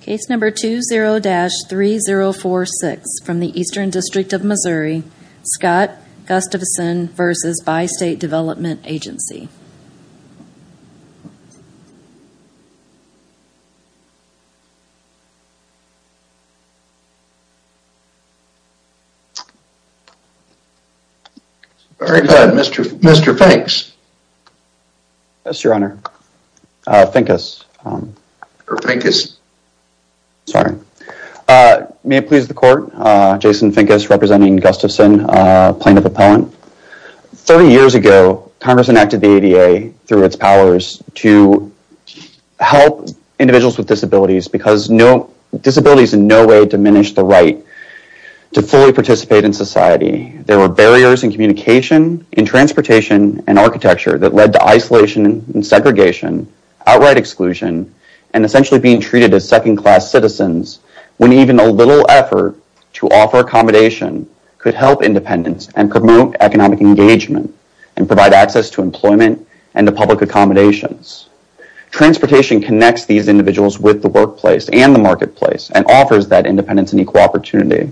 Case number 20-3046 from the Eastern District of Missouri, Scott Gustafson v. Bi-State Development Agency. Very good. Mr. Mr. Finkes. Yes, your honor. Finkes. May it please the court. Jason Finkes representing Gustafson, plaintiff appellant. 30 years ago, Congress enacted the ADA through its powers to help individuals with disabilities because disabilities in no way diminish the right to fully participate in society. There were barriers in communication, in transportation, and architecture that led to isolation and segregation, outright exclusion, and essentially being treated as second-class citizens when even a little effort to offer accommodation could help independence and promote economic engagement and provide access to employment and to public accommodations. Transportation connects these individuals with the workplace and the marketplace and offers that independence and equal opportunity.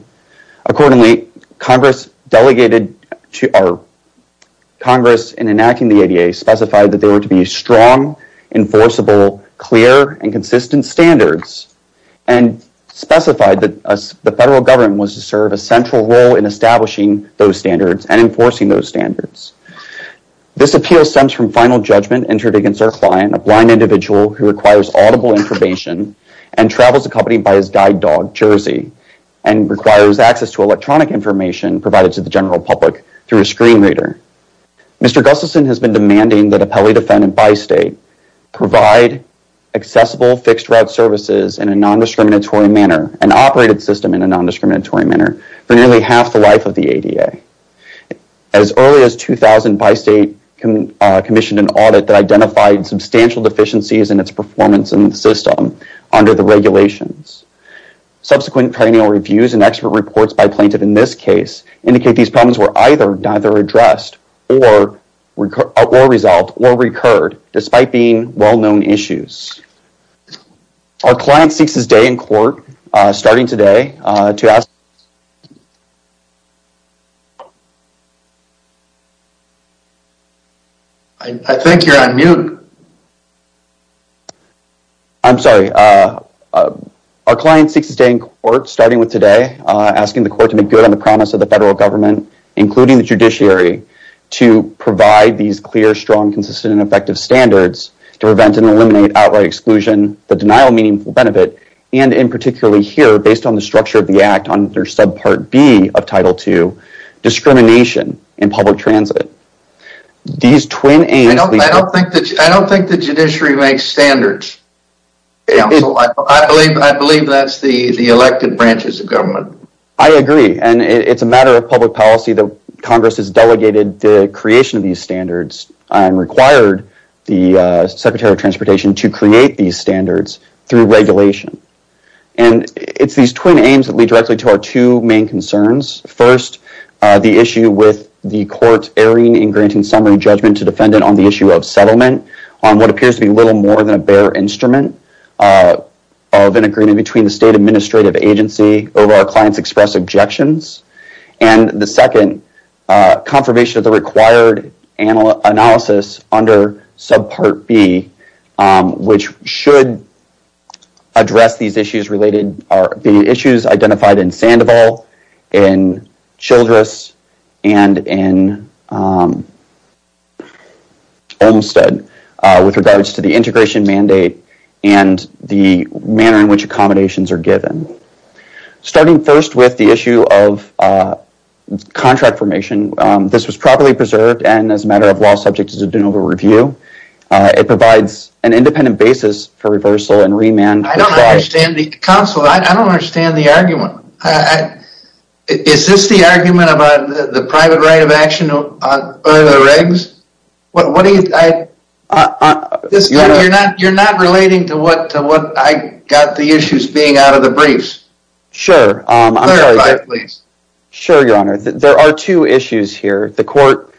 Accordingly, Congress in enacting the ADA specified that there were to be strong, enforceable, clear, and consistent standards and specified that the federal government was to serve a central role in establishing those standards and enforcing those standards. This appeal stems from final judgment entered against our client, a blind individual who requires audible information and travels accompanied by his guide dog, Jersey, and requires access to electronic information provided to the general public through a screen reader. Mr. Jersey required accessible fixed-route services in a non-discriminatory manner, an operated system in a non-discriminatory manner, for nearly half the life of the ADA. As early as 2000, Bi-State commissioned an audit that identified substantial deficiencies in its performance in the system under the regulations. Subsequent perennial reviews and expert reports by plaintiff in this case indicate these problems were either addressed or resolved or recurred despite being well-known issues. Our client seeks to stay in court starting with today asking the court to make good on the promise of the federal government, including the judiciary, to provide these clear, strong, consistent, and effective standards to prevent and eliminate outright exclusion, the denial of meaningful benefit, and in particular here, based on the structure of the Act under Subpart B of Title II, discrimination in public transit. These twin aims... I don't think the judiciary makes standards. I believe that's the elected branches of government. I agree, and it's a matter of public policy that Congress has delegated the creation of these standards and required the Secretary of Transportation to create these standards through regulation. And it's these twin aims that lead directly to our two main concerns. First, the issue with the court erring in granting summary judgment to defendant on the issue of settlement on what appears to be little more than a bare instrument of an agreement between the state administrative agency over our client's express objections, and the second, confirmation of the required analysis under Subpart B, which should address these issues related... The issues identified in Sandoval, in Childress, and in Olmstead, with regards to the integration mandate and the manner in which accommodations are given. Starting first with the issue of contract formation, this was properly preserved and as a matter of law subject to the De Novo review. It provides an independent basis for reversal and remand... I don't understand the... Counsel, I don't understand the argument. Is this the argument about the private right of action or the regs? What do you... You're not relating to what I got the issues being out of the briefs. Sure, Your Honor. There are two issues here. The court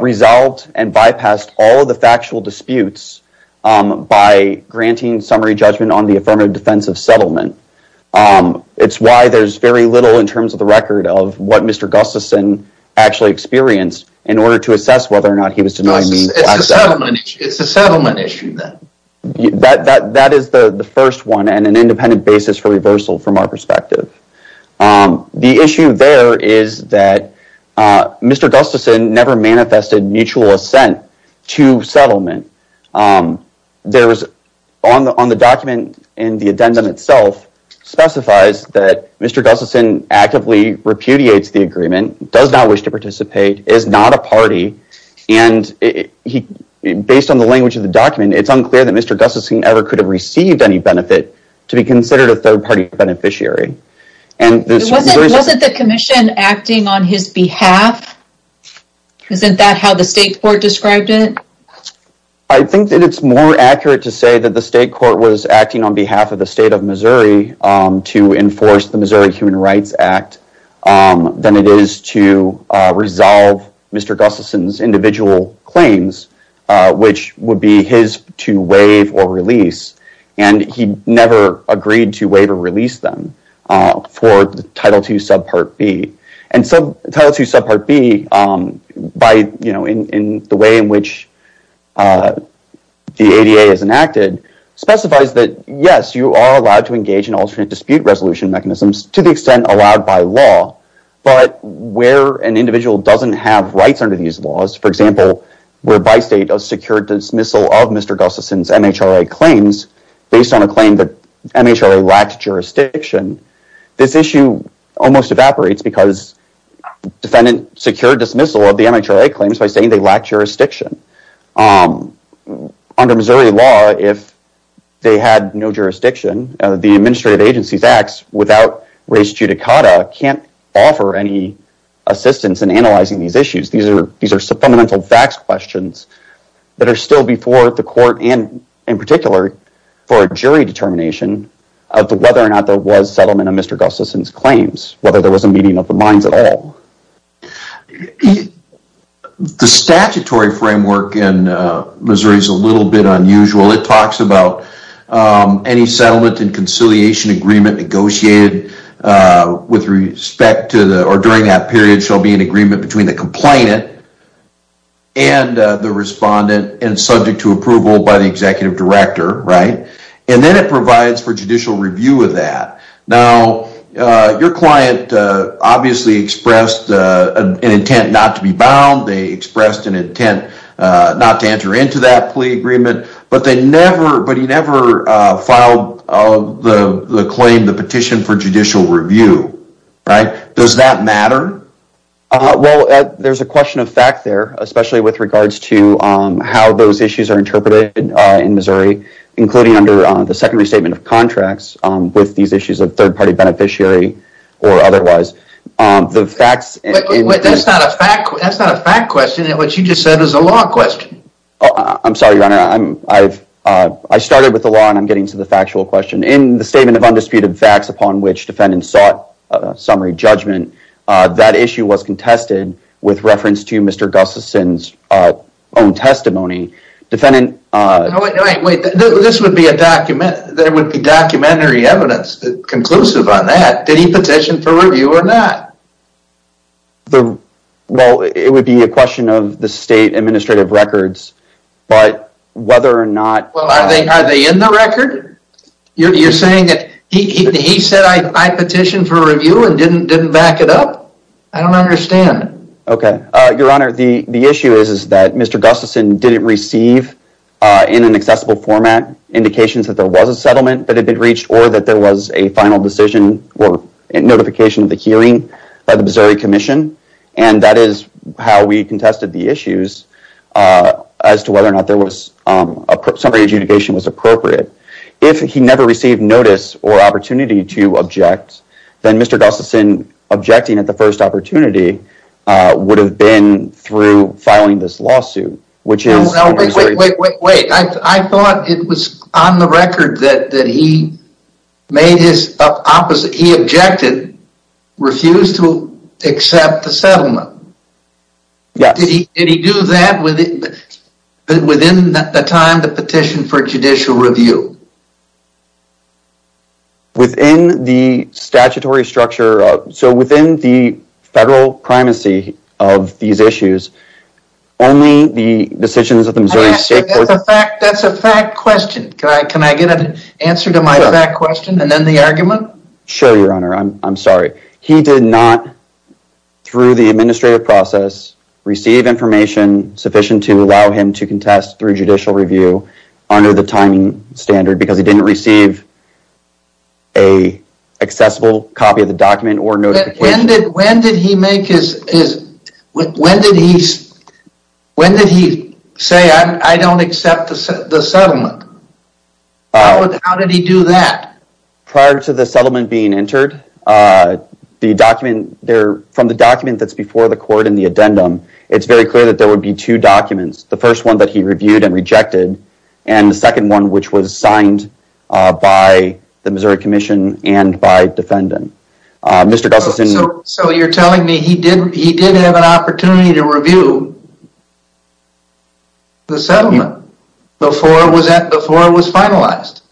resolved and bypassed all of the factual disputes by granting summary judgment on the affirmative defense of settlement. It's why there's very little in terms of the record of what Mr. Gustafson actually experienced in order to assess whether or not he was denying... It's a settlement issue then. That is the first one and an independent basis for reversal from our perspective. The issue there is that Mr. Gustafson never manifested mutual assent to settlement. On the document and the addendum itself specifies that Mr. Gustafson actively repudiates the agreement, does not wish to participate, is not a party, and based on the language of the document, it's unclear that Mr. Gustafson ever could have received any benefit to be considered a third party beneficiary. Wasn't the commission acting on his behalf? Isn't that how the state court described it? I think that it's more accurate to say that the state court was acting on behalf of the state of Missouri to enforce the Missouri Human Rights Act than it is to resolve Mr. Gustafson's individual claims, which would be his to waive or release, and he never agreed to waive or release them for Title II, Subpart B. Title II, Subpart B, in the way in which the ADA is enacted, is a subsection of Title II, specifies that, yes, you are allowed to engage in alternate dispute resolution mechanisms to the extent allowed by law, but where an individual doesn't have rights under these laws, for example, where by state a secured dismissal of Mr. Gustafson's MHRA claims based on a claim that MHRA lacked jurisdiction, this issue almost evaporates because the defendant secured dismissal of the MHRA claims by saying they lacked jurisdiction. Under Missouri law, if they had no jurisdiction, the administrative agency's acts without race judicata can't offer any assistance in analyzing these issues. These are fundamental facts questions that are still before the court and in particular for jury determination of whether or not there was settlement of Mr. Gustafson's claims, whether there was a meeting of the minds at all. The statutory framework in Missouri is a little bit unusual. It talks about any settlement and conciliation agreement negotiated with respect to or during that period shall be an agreement between the complainant and the respondent and subject to approval by the executive director, and then it provides for obviously expressed an intent not to be bound. They expressed an intent not to enter into that plea agreement, but they never, but he never filed the claim, the petition for judicial review, right? Does that matter? Well, there's a question of fact there, especially with regards to how those issues are interpreted in Missouri, including under the secondary statement of contracts with these issues of third-party beneficiary or otherwise. That's not a fact question. What you just said is a law question. I'm sorry, Your Honor. I started with the law and I'm getting to the factual question. In the statement of undisputed facts upon which defendants sought summary judgment, that issue was contested with reference to Mr. Gustafson's own testimony. Wait, wait, wait. This would be a document. There would be documentary evidence conclusive on that. Did he petition for review or not? Well, it would be a question of the state administrative records, but whether or not... Well, are they in the record? You're saying that he said I petitioned for review and didn't back it up? I don't understand. Okay. Your Honor, the issue is that Mr. Gustafson didn't receive in an accessible format indications that there was a settlement that had been reached or that there was a final decision or notification of the hearing by the Missouri Commission, and that is how we contested the issues as to whether or not summary adjudication was appropriate. If he never received notice or opportunity to object, then Mr. Gustafson objecting at the first opportunity would have been through filing this lawsuit, which is... Wait, wait, wait. I thought it was on the record that he made his... He objected, refused to accept the settlement. Yes. Did he do that within the time the petition for judicial review? Within the statutory structure... So, within the federal primacy of these issues, only the decisions of the Missouri... That's a fact question. Can I get an answer to my fact question and then the argument? Sure, Your Honor. I'm sorry. He did not, through the administrative process, receive information sufficient to allow him to contest through judicial review under the timing standard because he didn't receive an accessible copy of the document or notification. When did he make his... When did he say, I don't accept the settlement? How did he do that? Prior to the settlement being entered, from the document that's before the court and the addendum, it's very clear that there would be two documents. The first one that he reviewed and rejected and the second one which was signed by the Missouri Commission and by defendant. Mr. Gustafson... So, you're telling me he did have an opportunity to review the settlement before it was finalized?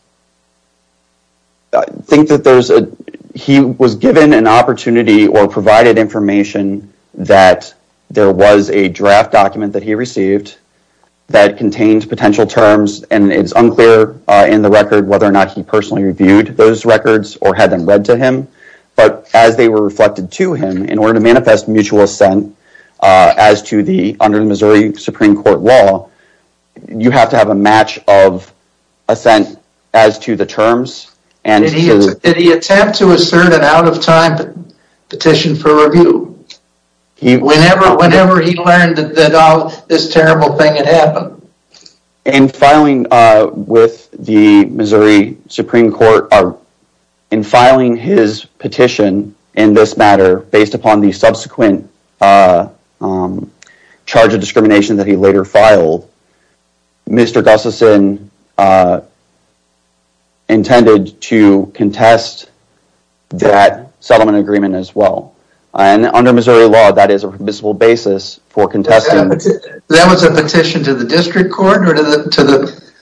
I think that there's a... He was given an opportunity or provided information that there was a draft document that he received that contained potential terms and it's unclear in the record whether or not he personally reviewed those records or had them read to him, but as they were reflected to him, in order to manifest mutual assent as to the under the Missouri Supreme Court law, you have to have a match of assent as to the terms and... Did he attempt to assert an out of time petition for review? Whenever he learned that this terrible thing had happened? In filing with the Missouri Supreme Court, in filing his petition in this matter, based upon the subsequent charge of discrimination that he later filed, Mr. Gustafson intended to contest that settlement agreement as well and under Missouri law, that is a permissible basis for contesting... That was a petition to the district court or to the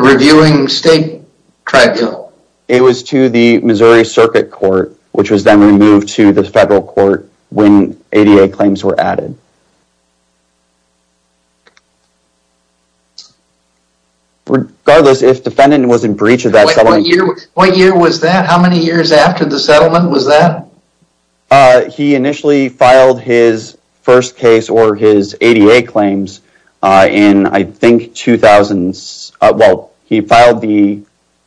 reviewing state tribunal? It was to the Missouri Circuit Court, which was then removed to the federal court when ADA claims were added. Regardless, if defendant was in breach of that settlement... What year was that? How many years after the settlement was that? He initially filed his first case or his ADA claims in, I think, 2000... Well, he filed the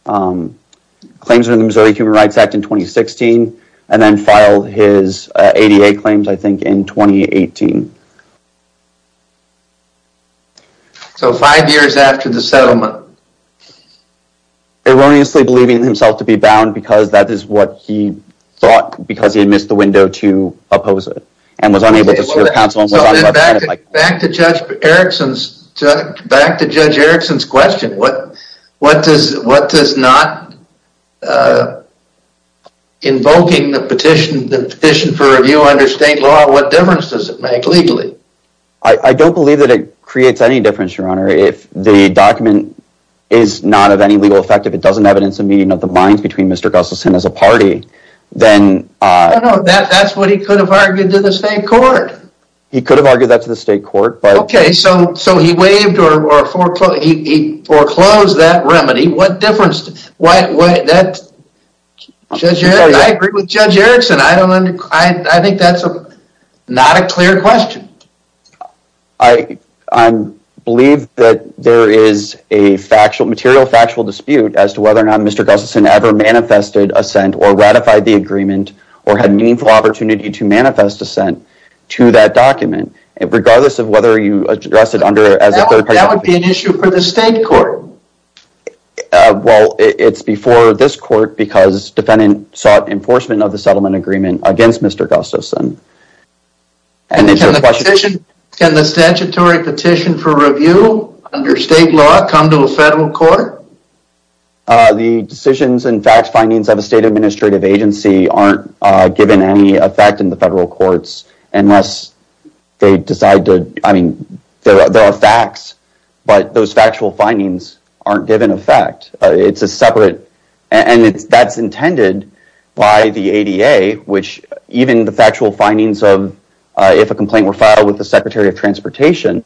claims under the Missouri Human Rights Act in 2016 and then filed his ADA claims, I think, in 2018. So five years after the settlement? Erroneously believing himself to be bound because that is what he thought because he had missed the settlement. Back to Judge Erickson's question. What does not invoking the petition for review under state law, what difference does it make legally? I don't believe that it creates any difference, Your Honor. If the document is not of any legal effect, if it doesn't evidence the meeting of the minds between Mr. Gustafson and his party, then... That's what he could have argued to the state court. He could have argued that to the state court. Okay, so he believed or foreclosed that remedy. What difference... I agree with Judge Erickson. I think that's not a clear question. I believe that there is a material factual dispute as to whether or not Mr. Gustafson ever manifested assent or ratified the agreement or had meaningful opportunity to manifest assent to that document, regardless of whether you address it under as a third party. That would be an issue for the state court. Well, it's before this court because defendant sought enforcement of the settlement agreement against Mr. Gustafson. Can the statutory petition for review under state law come to a federal court? The decisions and fact findings of a state administrative agency aren't given any effect in the federal courts unless they decide to... I mean, there are facts, but those factual findings aren't given effect. It's a separate... That's intended by the ADA, which even the factual findings of if a complaint were filed with the Secretary of Transportation,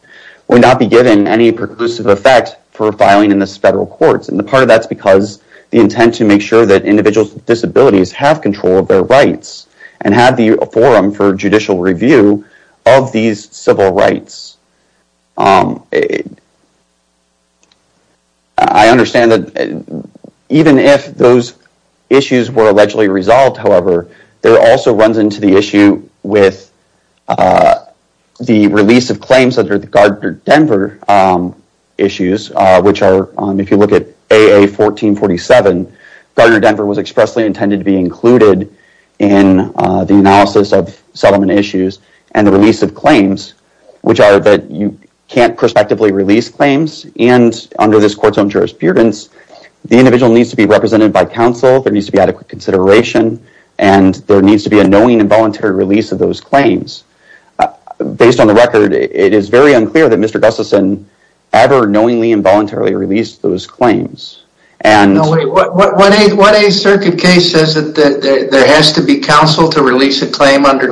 would not be given any preclusive effect for filing in the federal courts. Part of that's because the intent to make sure that individuals with disabilities have control of their rights and have the forum for judicial review of these civil rights. I understand that even if those issues were allegedly resolved, however, there also runs into the issue with the release of claims under the Gardner-Denver issues, which are, if you look at AA-1447, Gardner-Denver was expressly intended to be included in the analysis of settlement issues and the release of claims, which are that you can't prospectively release claims, and under this court's own jurisprudence, the individual needs to be represented by counsel, there needs to be adequate consideration, and there needs to be a knowing and voluntary release of those claims. Based on the record, it is very unclear that Mr. Gustafson ever knowingly and voluntarily released those claims. No, wait, what 8th Circuit case says that there has to be counsel to release a claim under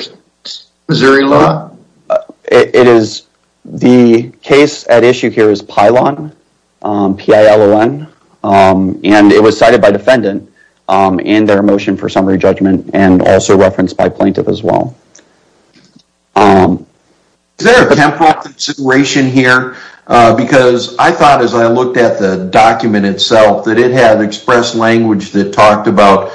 Missouri law? The case at issue here is Pilon, P-I-L-O-N, and it was cited by defendant in their motion for summary judgment and also referenced by counsel. There is a little bit of a temporal consideration here because I thought as I looked at the document itself that it had expressed language that talked about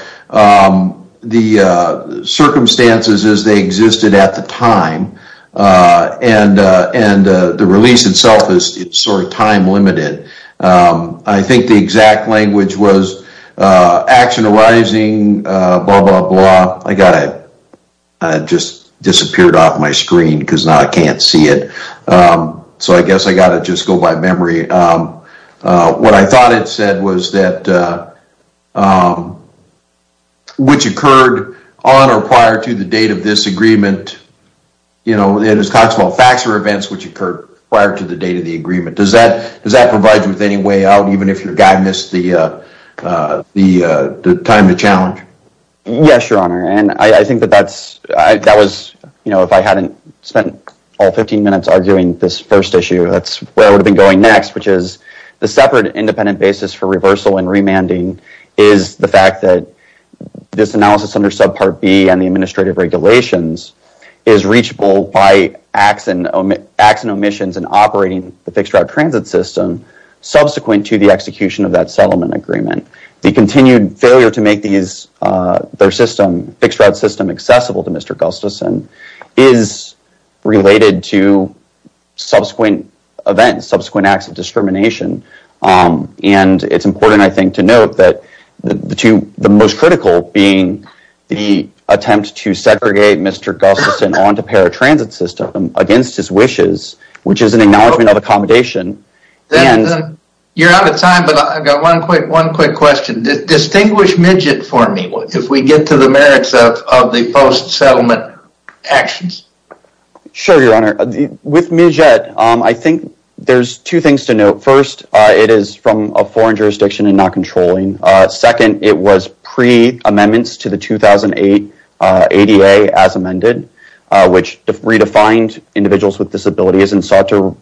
the circumstances as they existed at the time, and the release itself is sort of time-limited. I think the exact language was, action arising, blah, blah, blah, I just disappeared off my screen because now I can't see it, so I guess I just have to go by memory. What I thought it said was that, which occurred on or prior to the date of this agreement, it talks about facts or events which occurred prior to the date of the agreement. Does that provide you with any way out, even if your guy missed the time to challenge? Yes, Your Honor, and I think that that was, you know, if I hadn't spent all 15 minutes arguing this first issue, that's where I would have been going next, which is the separate independent basis for reversal and remanding is the fact that this analysis under subpart B and the administrative regulations is reachable by acts and omissions in operating the fixed route transit system subsequent to the execution of that settlement agreement. The continued failure to make their system, fixed route system, accessible to Mr. Gustafson is related to subsequent events, subsequent acts of discrimination, and it's important, I think, to note that the most critical being the attempt to segregate Mr. Gustafson onto paratransit system against his wishes, which is an acknowledgment of accommodation. You're out of time, but I've got one quick question. Distinguish Midget for me, if we get to the merits of the post-settlement actions. Sure, Your Honor. With Midget, I think there's two things to note. First, it is from a foreign jurisdiction and not controlling. Second, it was pre-amendments to the 2008 ADA as amended, which redefined individuals with disabilities and sought to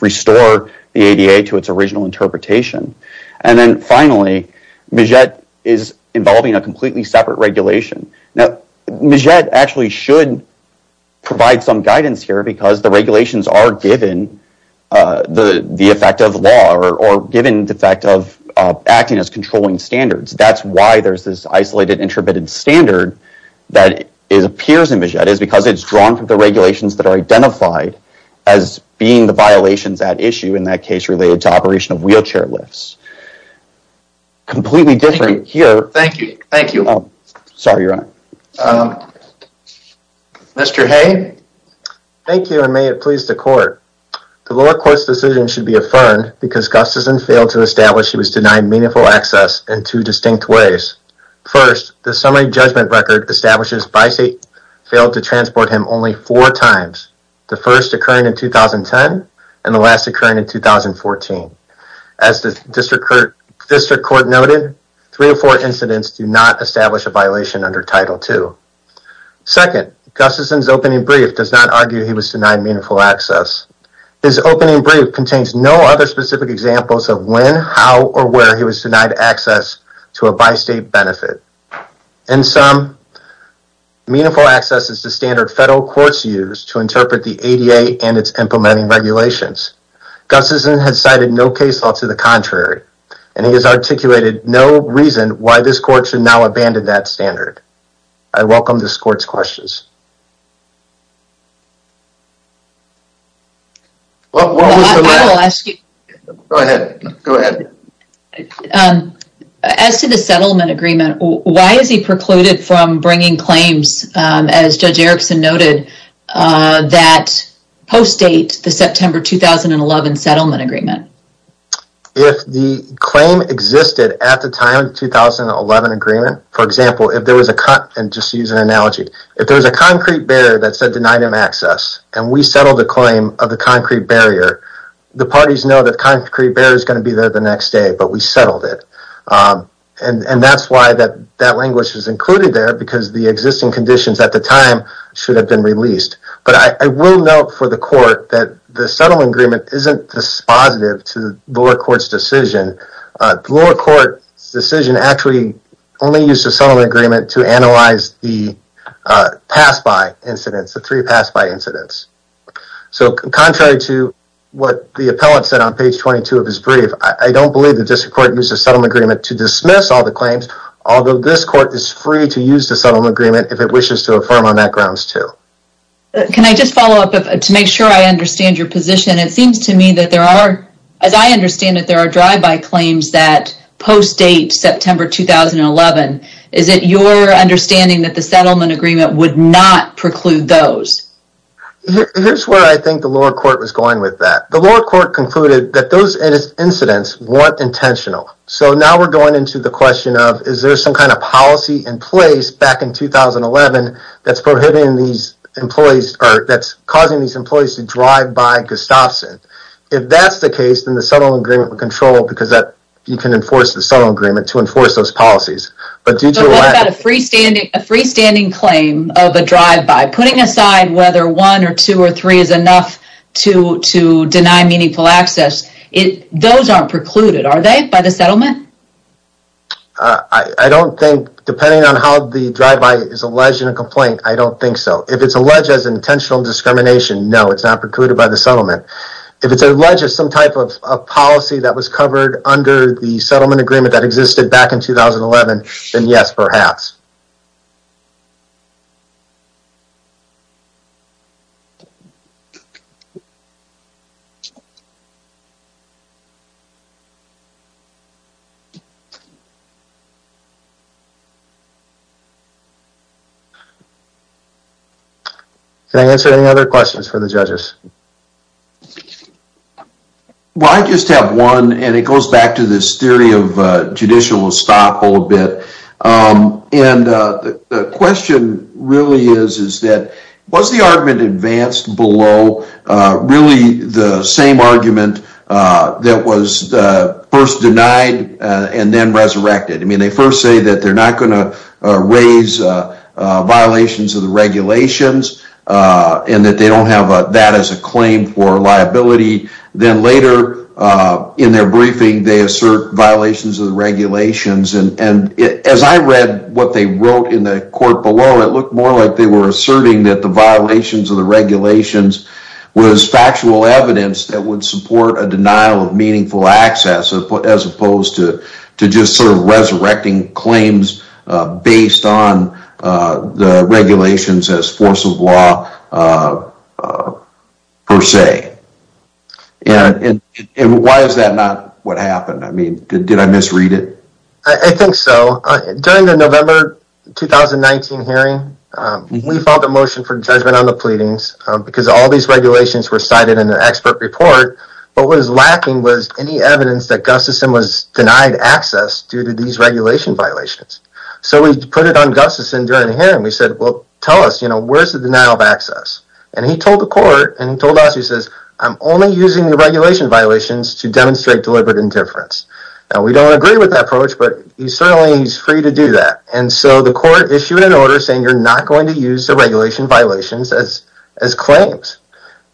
restore the ADA to its original interpretation. And then, finally, Midget is involving a completely separate regulation. Now, Midget actually should provide some guidance here because the regulations are given the effect of law or given the fact of acting as controlling standards. That's why there's this isolated, intermittent standard that appears in Midget. It's because it's drawn from the regulations that are identified as being the violations at issue in that case related to operation of wheelchair lifts. Completely different here. Thank you. Thank you. Sorry, Your Honor. Mr. Hay? Thank you, and may it please the court. The lower court's decision should be affirmed because Gustafson failed to establish he was denied meaningful access in two distinct ways. First, the summary judgment record establishes Bicey failed to transport him only four times, the first occurring in 2010 and the last occurring in 2014. As the district court noted, three or four incidents do not establish a violation under Title II. Second, Gustafson's opening brief does not argue he was denied meaningful access. His opening brief contains no other specific examples of when, how, or where he was denied access to a bi-state benefit. In sum, meaningful access is the standard federal courts use to interpret the ADA and its implementing regulations. Gustafson has cited no case law to the contrary, and he has articulated no reason why this court should now abandon that standard. I welcome this court's questions. I will ask you. Go ahead. As to the settlement agreement, why is he precluded from bringing claims, as Judge Erickson noted, that post-date the September 2011 settlement agreement? If the claim existed at the time of the 2011 agreement, for example, if there was a cut and, just to use an analogy, if there was a concrete barrier that said denied him access and we settled the claim of the concrete barrier, the parties know the concrete barrier is going to be there the next day, but we settled it. And that's why that language was included there because the existing conditions at the time should have been released. But I will note for the court that the settlement agreement isn't dispositive to the lower court's decision. The lower court's decision actually only used the settlement agreement to analyze the pass-by incidents, the three pass-by incidents. So, contrary to what the appellant said on page 22 of his brief, I don't believe the district court used the settlement agreement to dismiss all the claims, although this court is free to use the settlement agreement if it wishes to affirm on that grounds, too. Can I just follow up to make sure I understand your position? It seems to me that there are, as I understand it, there are drive-by claims that post-date September 2011. Is it your understanding that the settlement agreement would not preclude those? Here's where I think the lower court was going with that. The lower court concluded that those incidents weren't intentional. So, now we're going into the question of is there some kind of policy in place back in 2011 that's prohibiting these employees or that's the case, then the settlement agreement would control because you can enforce the settlement agreement to enforce those policies. But what about a freestanding claim of a drive-by? Putting aside whether one or two or three is enough to deny meaningful access, those aren't precluded, are they, by the settlement? I don't think, depending on how the drive-by is alleged in a complaint, I don't think so. If it's alleged as intentional discrimination, no, it's not precluded by the settlement. If it's alleged as some type of policy that was covered under the settlement agreement that existed back in 2011, then yes, perhaps. Can I answer any other questions for the judges? Well, I just have one and it goes back to this theory of judicial will stop a little bit and the question really is that was the argument advanced below really the same argument that was first denied and then resurrected? I mean, they first say that they're not going to raise violations of the regulations and that they don't have that as a claim for liability. Then later in their briefing, they assert violations of the regulations and as I read what they wrote in the court below, it looked more like they were asserting that the violations of the regulations was factual evidence that would support a denial of meaningful access as opposed to just sort of resurrecting claims based on the regulations as force of law per se. And why is that not what happened? I mean, did I misread it? I think so. During the November 2019 hearing, we filed a motion for judgment on the pleadings because all these regulations were cited in the expert report, but what was lacking was any evidence that Gustafson was denied access due to these regulation violations. So we put it on Gustafson during the hearing. We said, well, tell us, you know, where's the denial of access? And he told the court and he told us, he says, I'm only using the regulation violations to demonstrate deliberate indifference. Now, we don't agree with that approach, but he certainly is free to do that. And so the court issued an order saying you're not going to use the regulation violations as claims.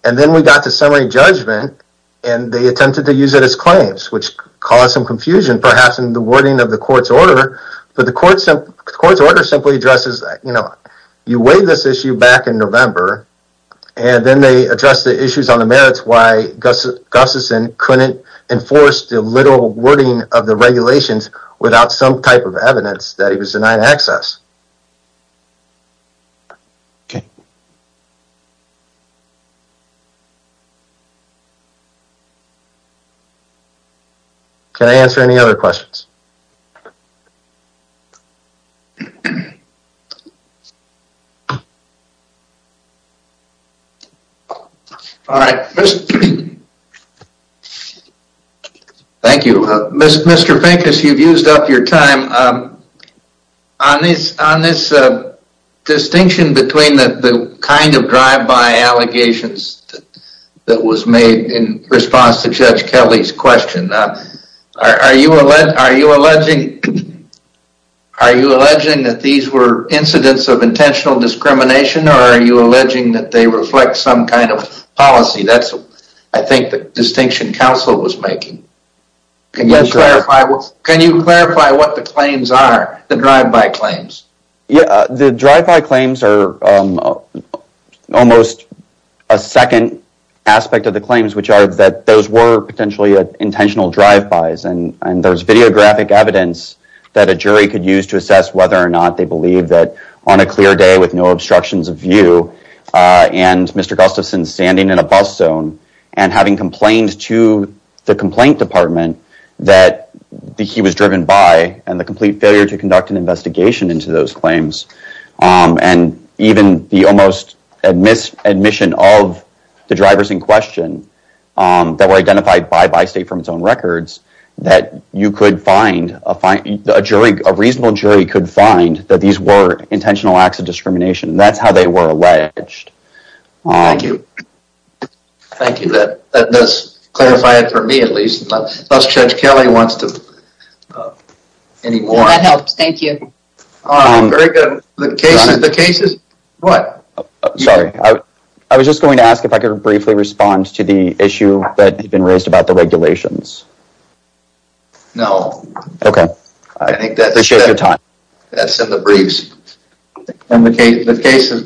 And then we got to summary judgment and they attempted to use it as claims, which caused some confusion perhaps in the wording of the court's order. But the court's order simply addresses, you know, you waive this issue back in November and then they address the issues on the merits why Gustafson couldn't enforce the literal wording of the regulations without some type of evidence that he was denied access. Okay. Can I answer any other questions? All right. Thank you. Mr. Finkus, you've used up your time. On this distinction between the kind of drive-by allegations that was made in response to Judge Kelly's question, are you alleging that these were incidents of intentional discrimination or are you alleging that they reflect some kind of policy? That's, I think, the distinction counsel was making. Can you clarify what the claims are, the drive-by claims? Yeah, the drive-by claims are almost a second aspect of the claims, which are that those were potentially intentional drive-bys and there's videographic evidence that a jury could use to assess whether or not they believe that on a clear day with no obstructions of view and Mr. Gustafson standing in a bus zone and having complained to the complaint department that he was driven by and the complete failure to conduct an investigation into those claims and even the almost admission of the drivers in question that were identified by Bystate from its own records that you could find, a reasonable jury could find that these were intentional acts of discrimination. That's how they were alleged. Thank you. Thank you. That does clarify it for me at least. Unless Judge Kelly wants to, any more. That helps, thank you. Very good. The cases, the cases, what? Sorry, I was just going to ask if I could briefly respond to the issue that had been raised about the regulations. No. Okay. I think that's in the briefs. And the cases.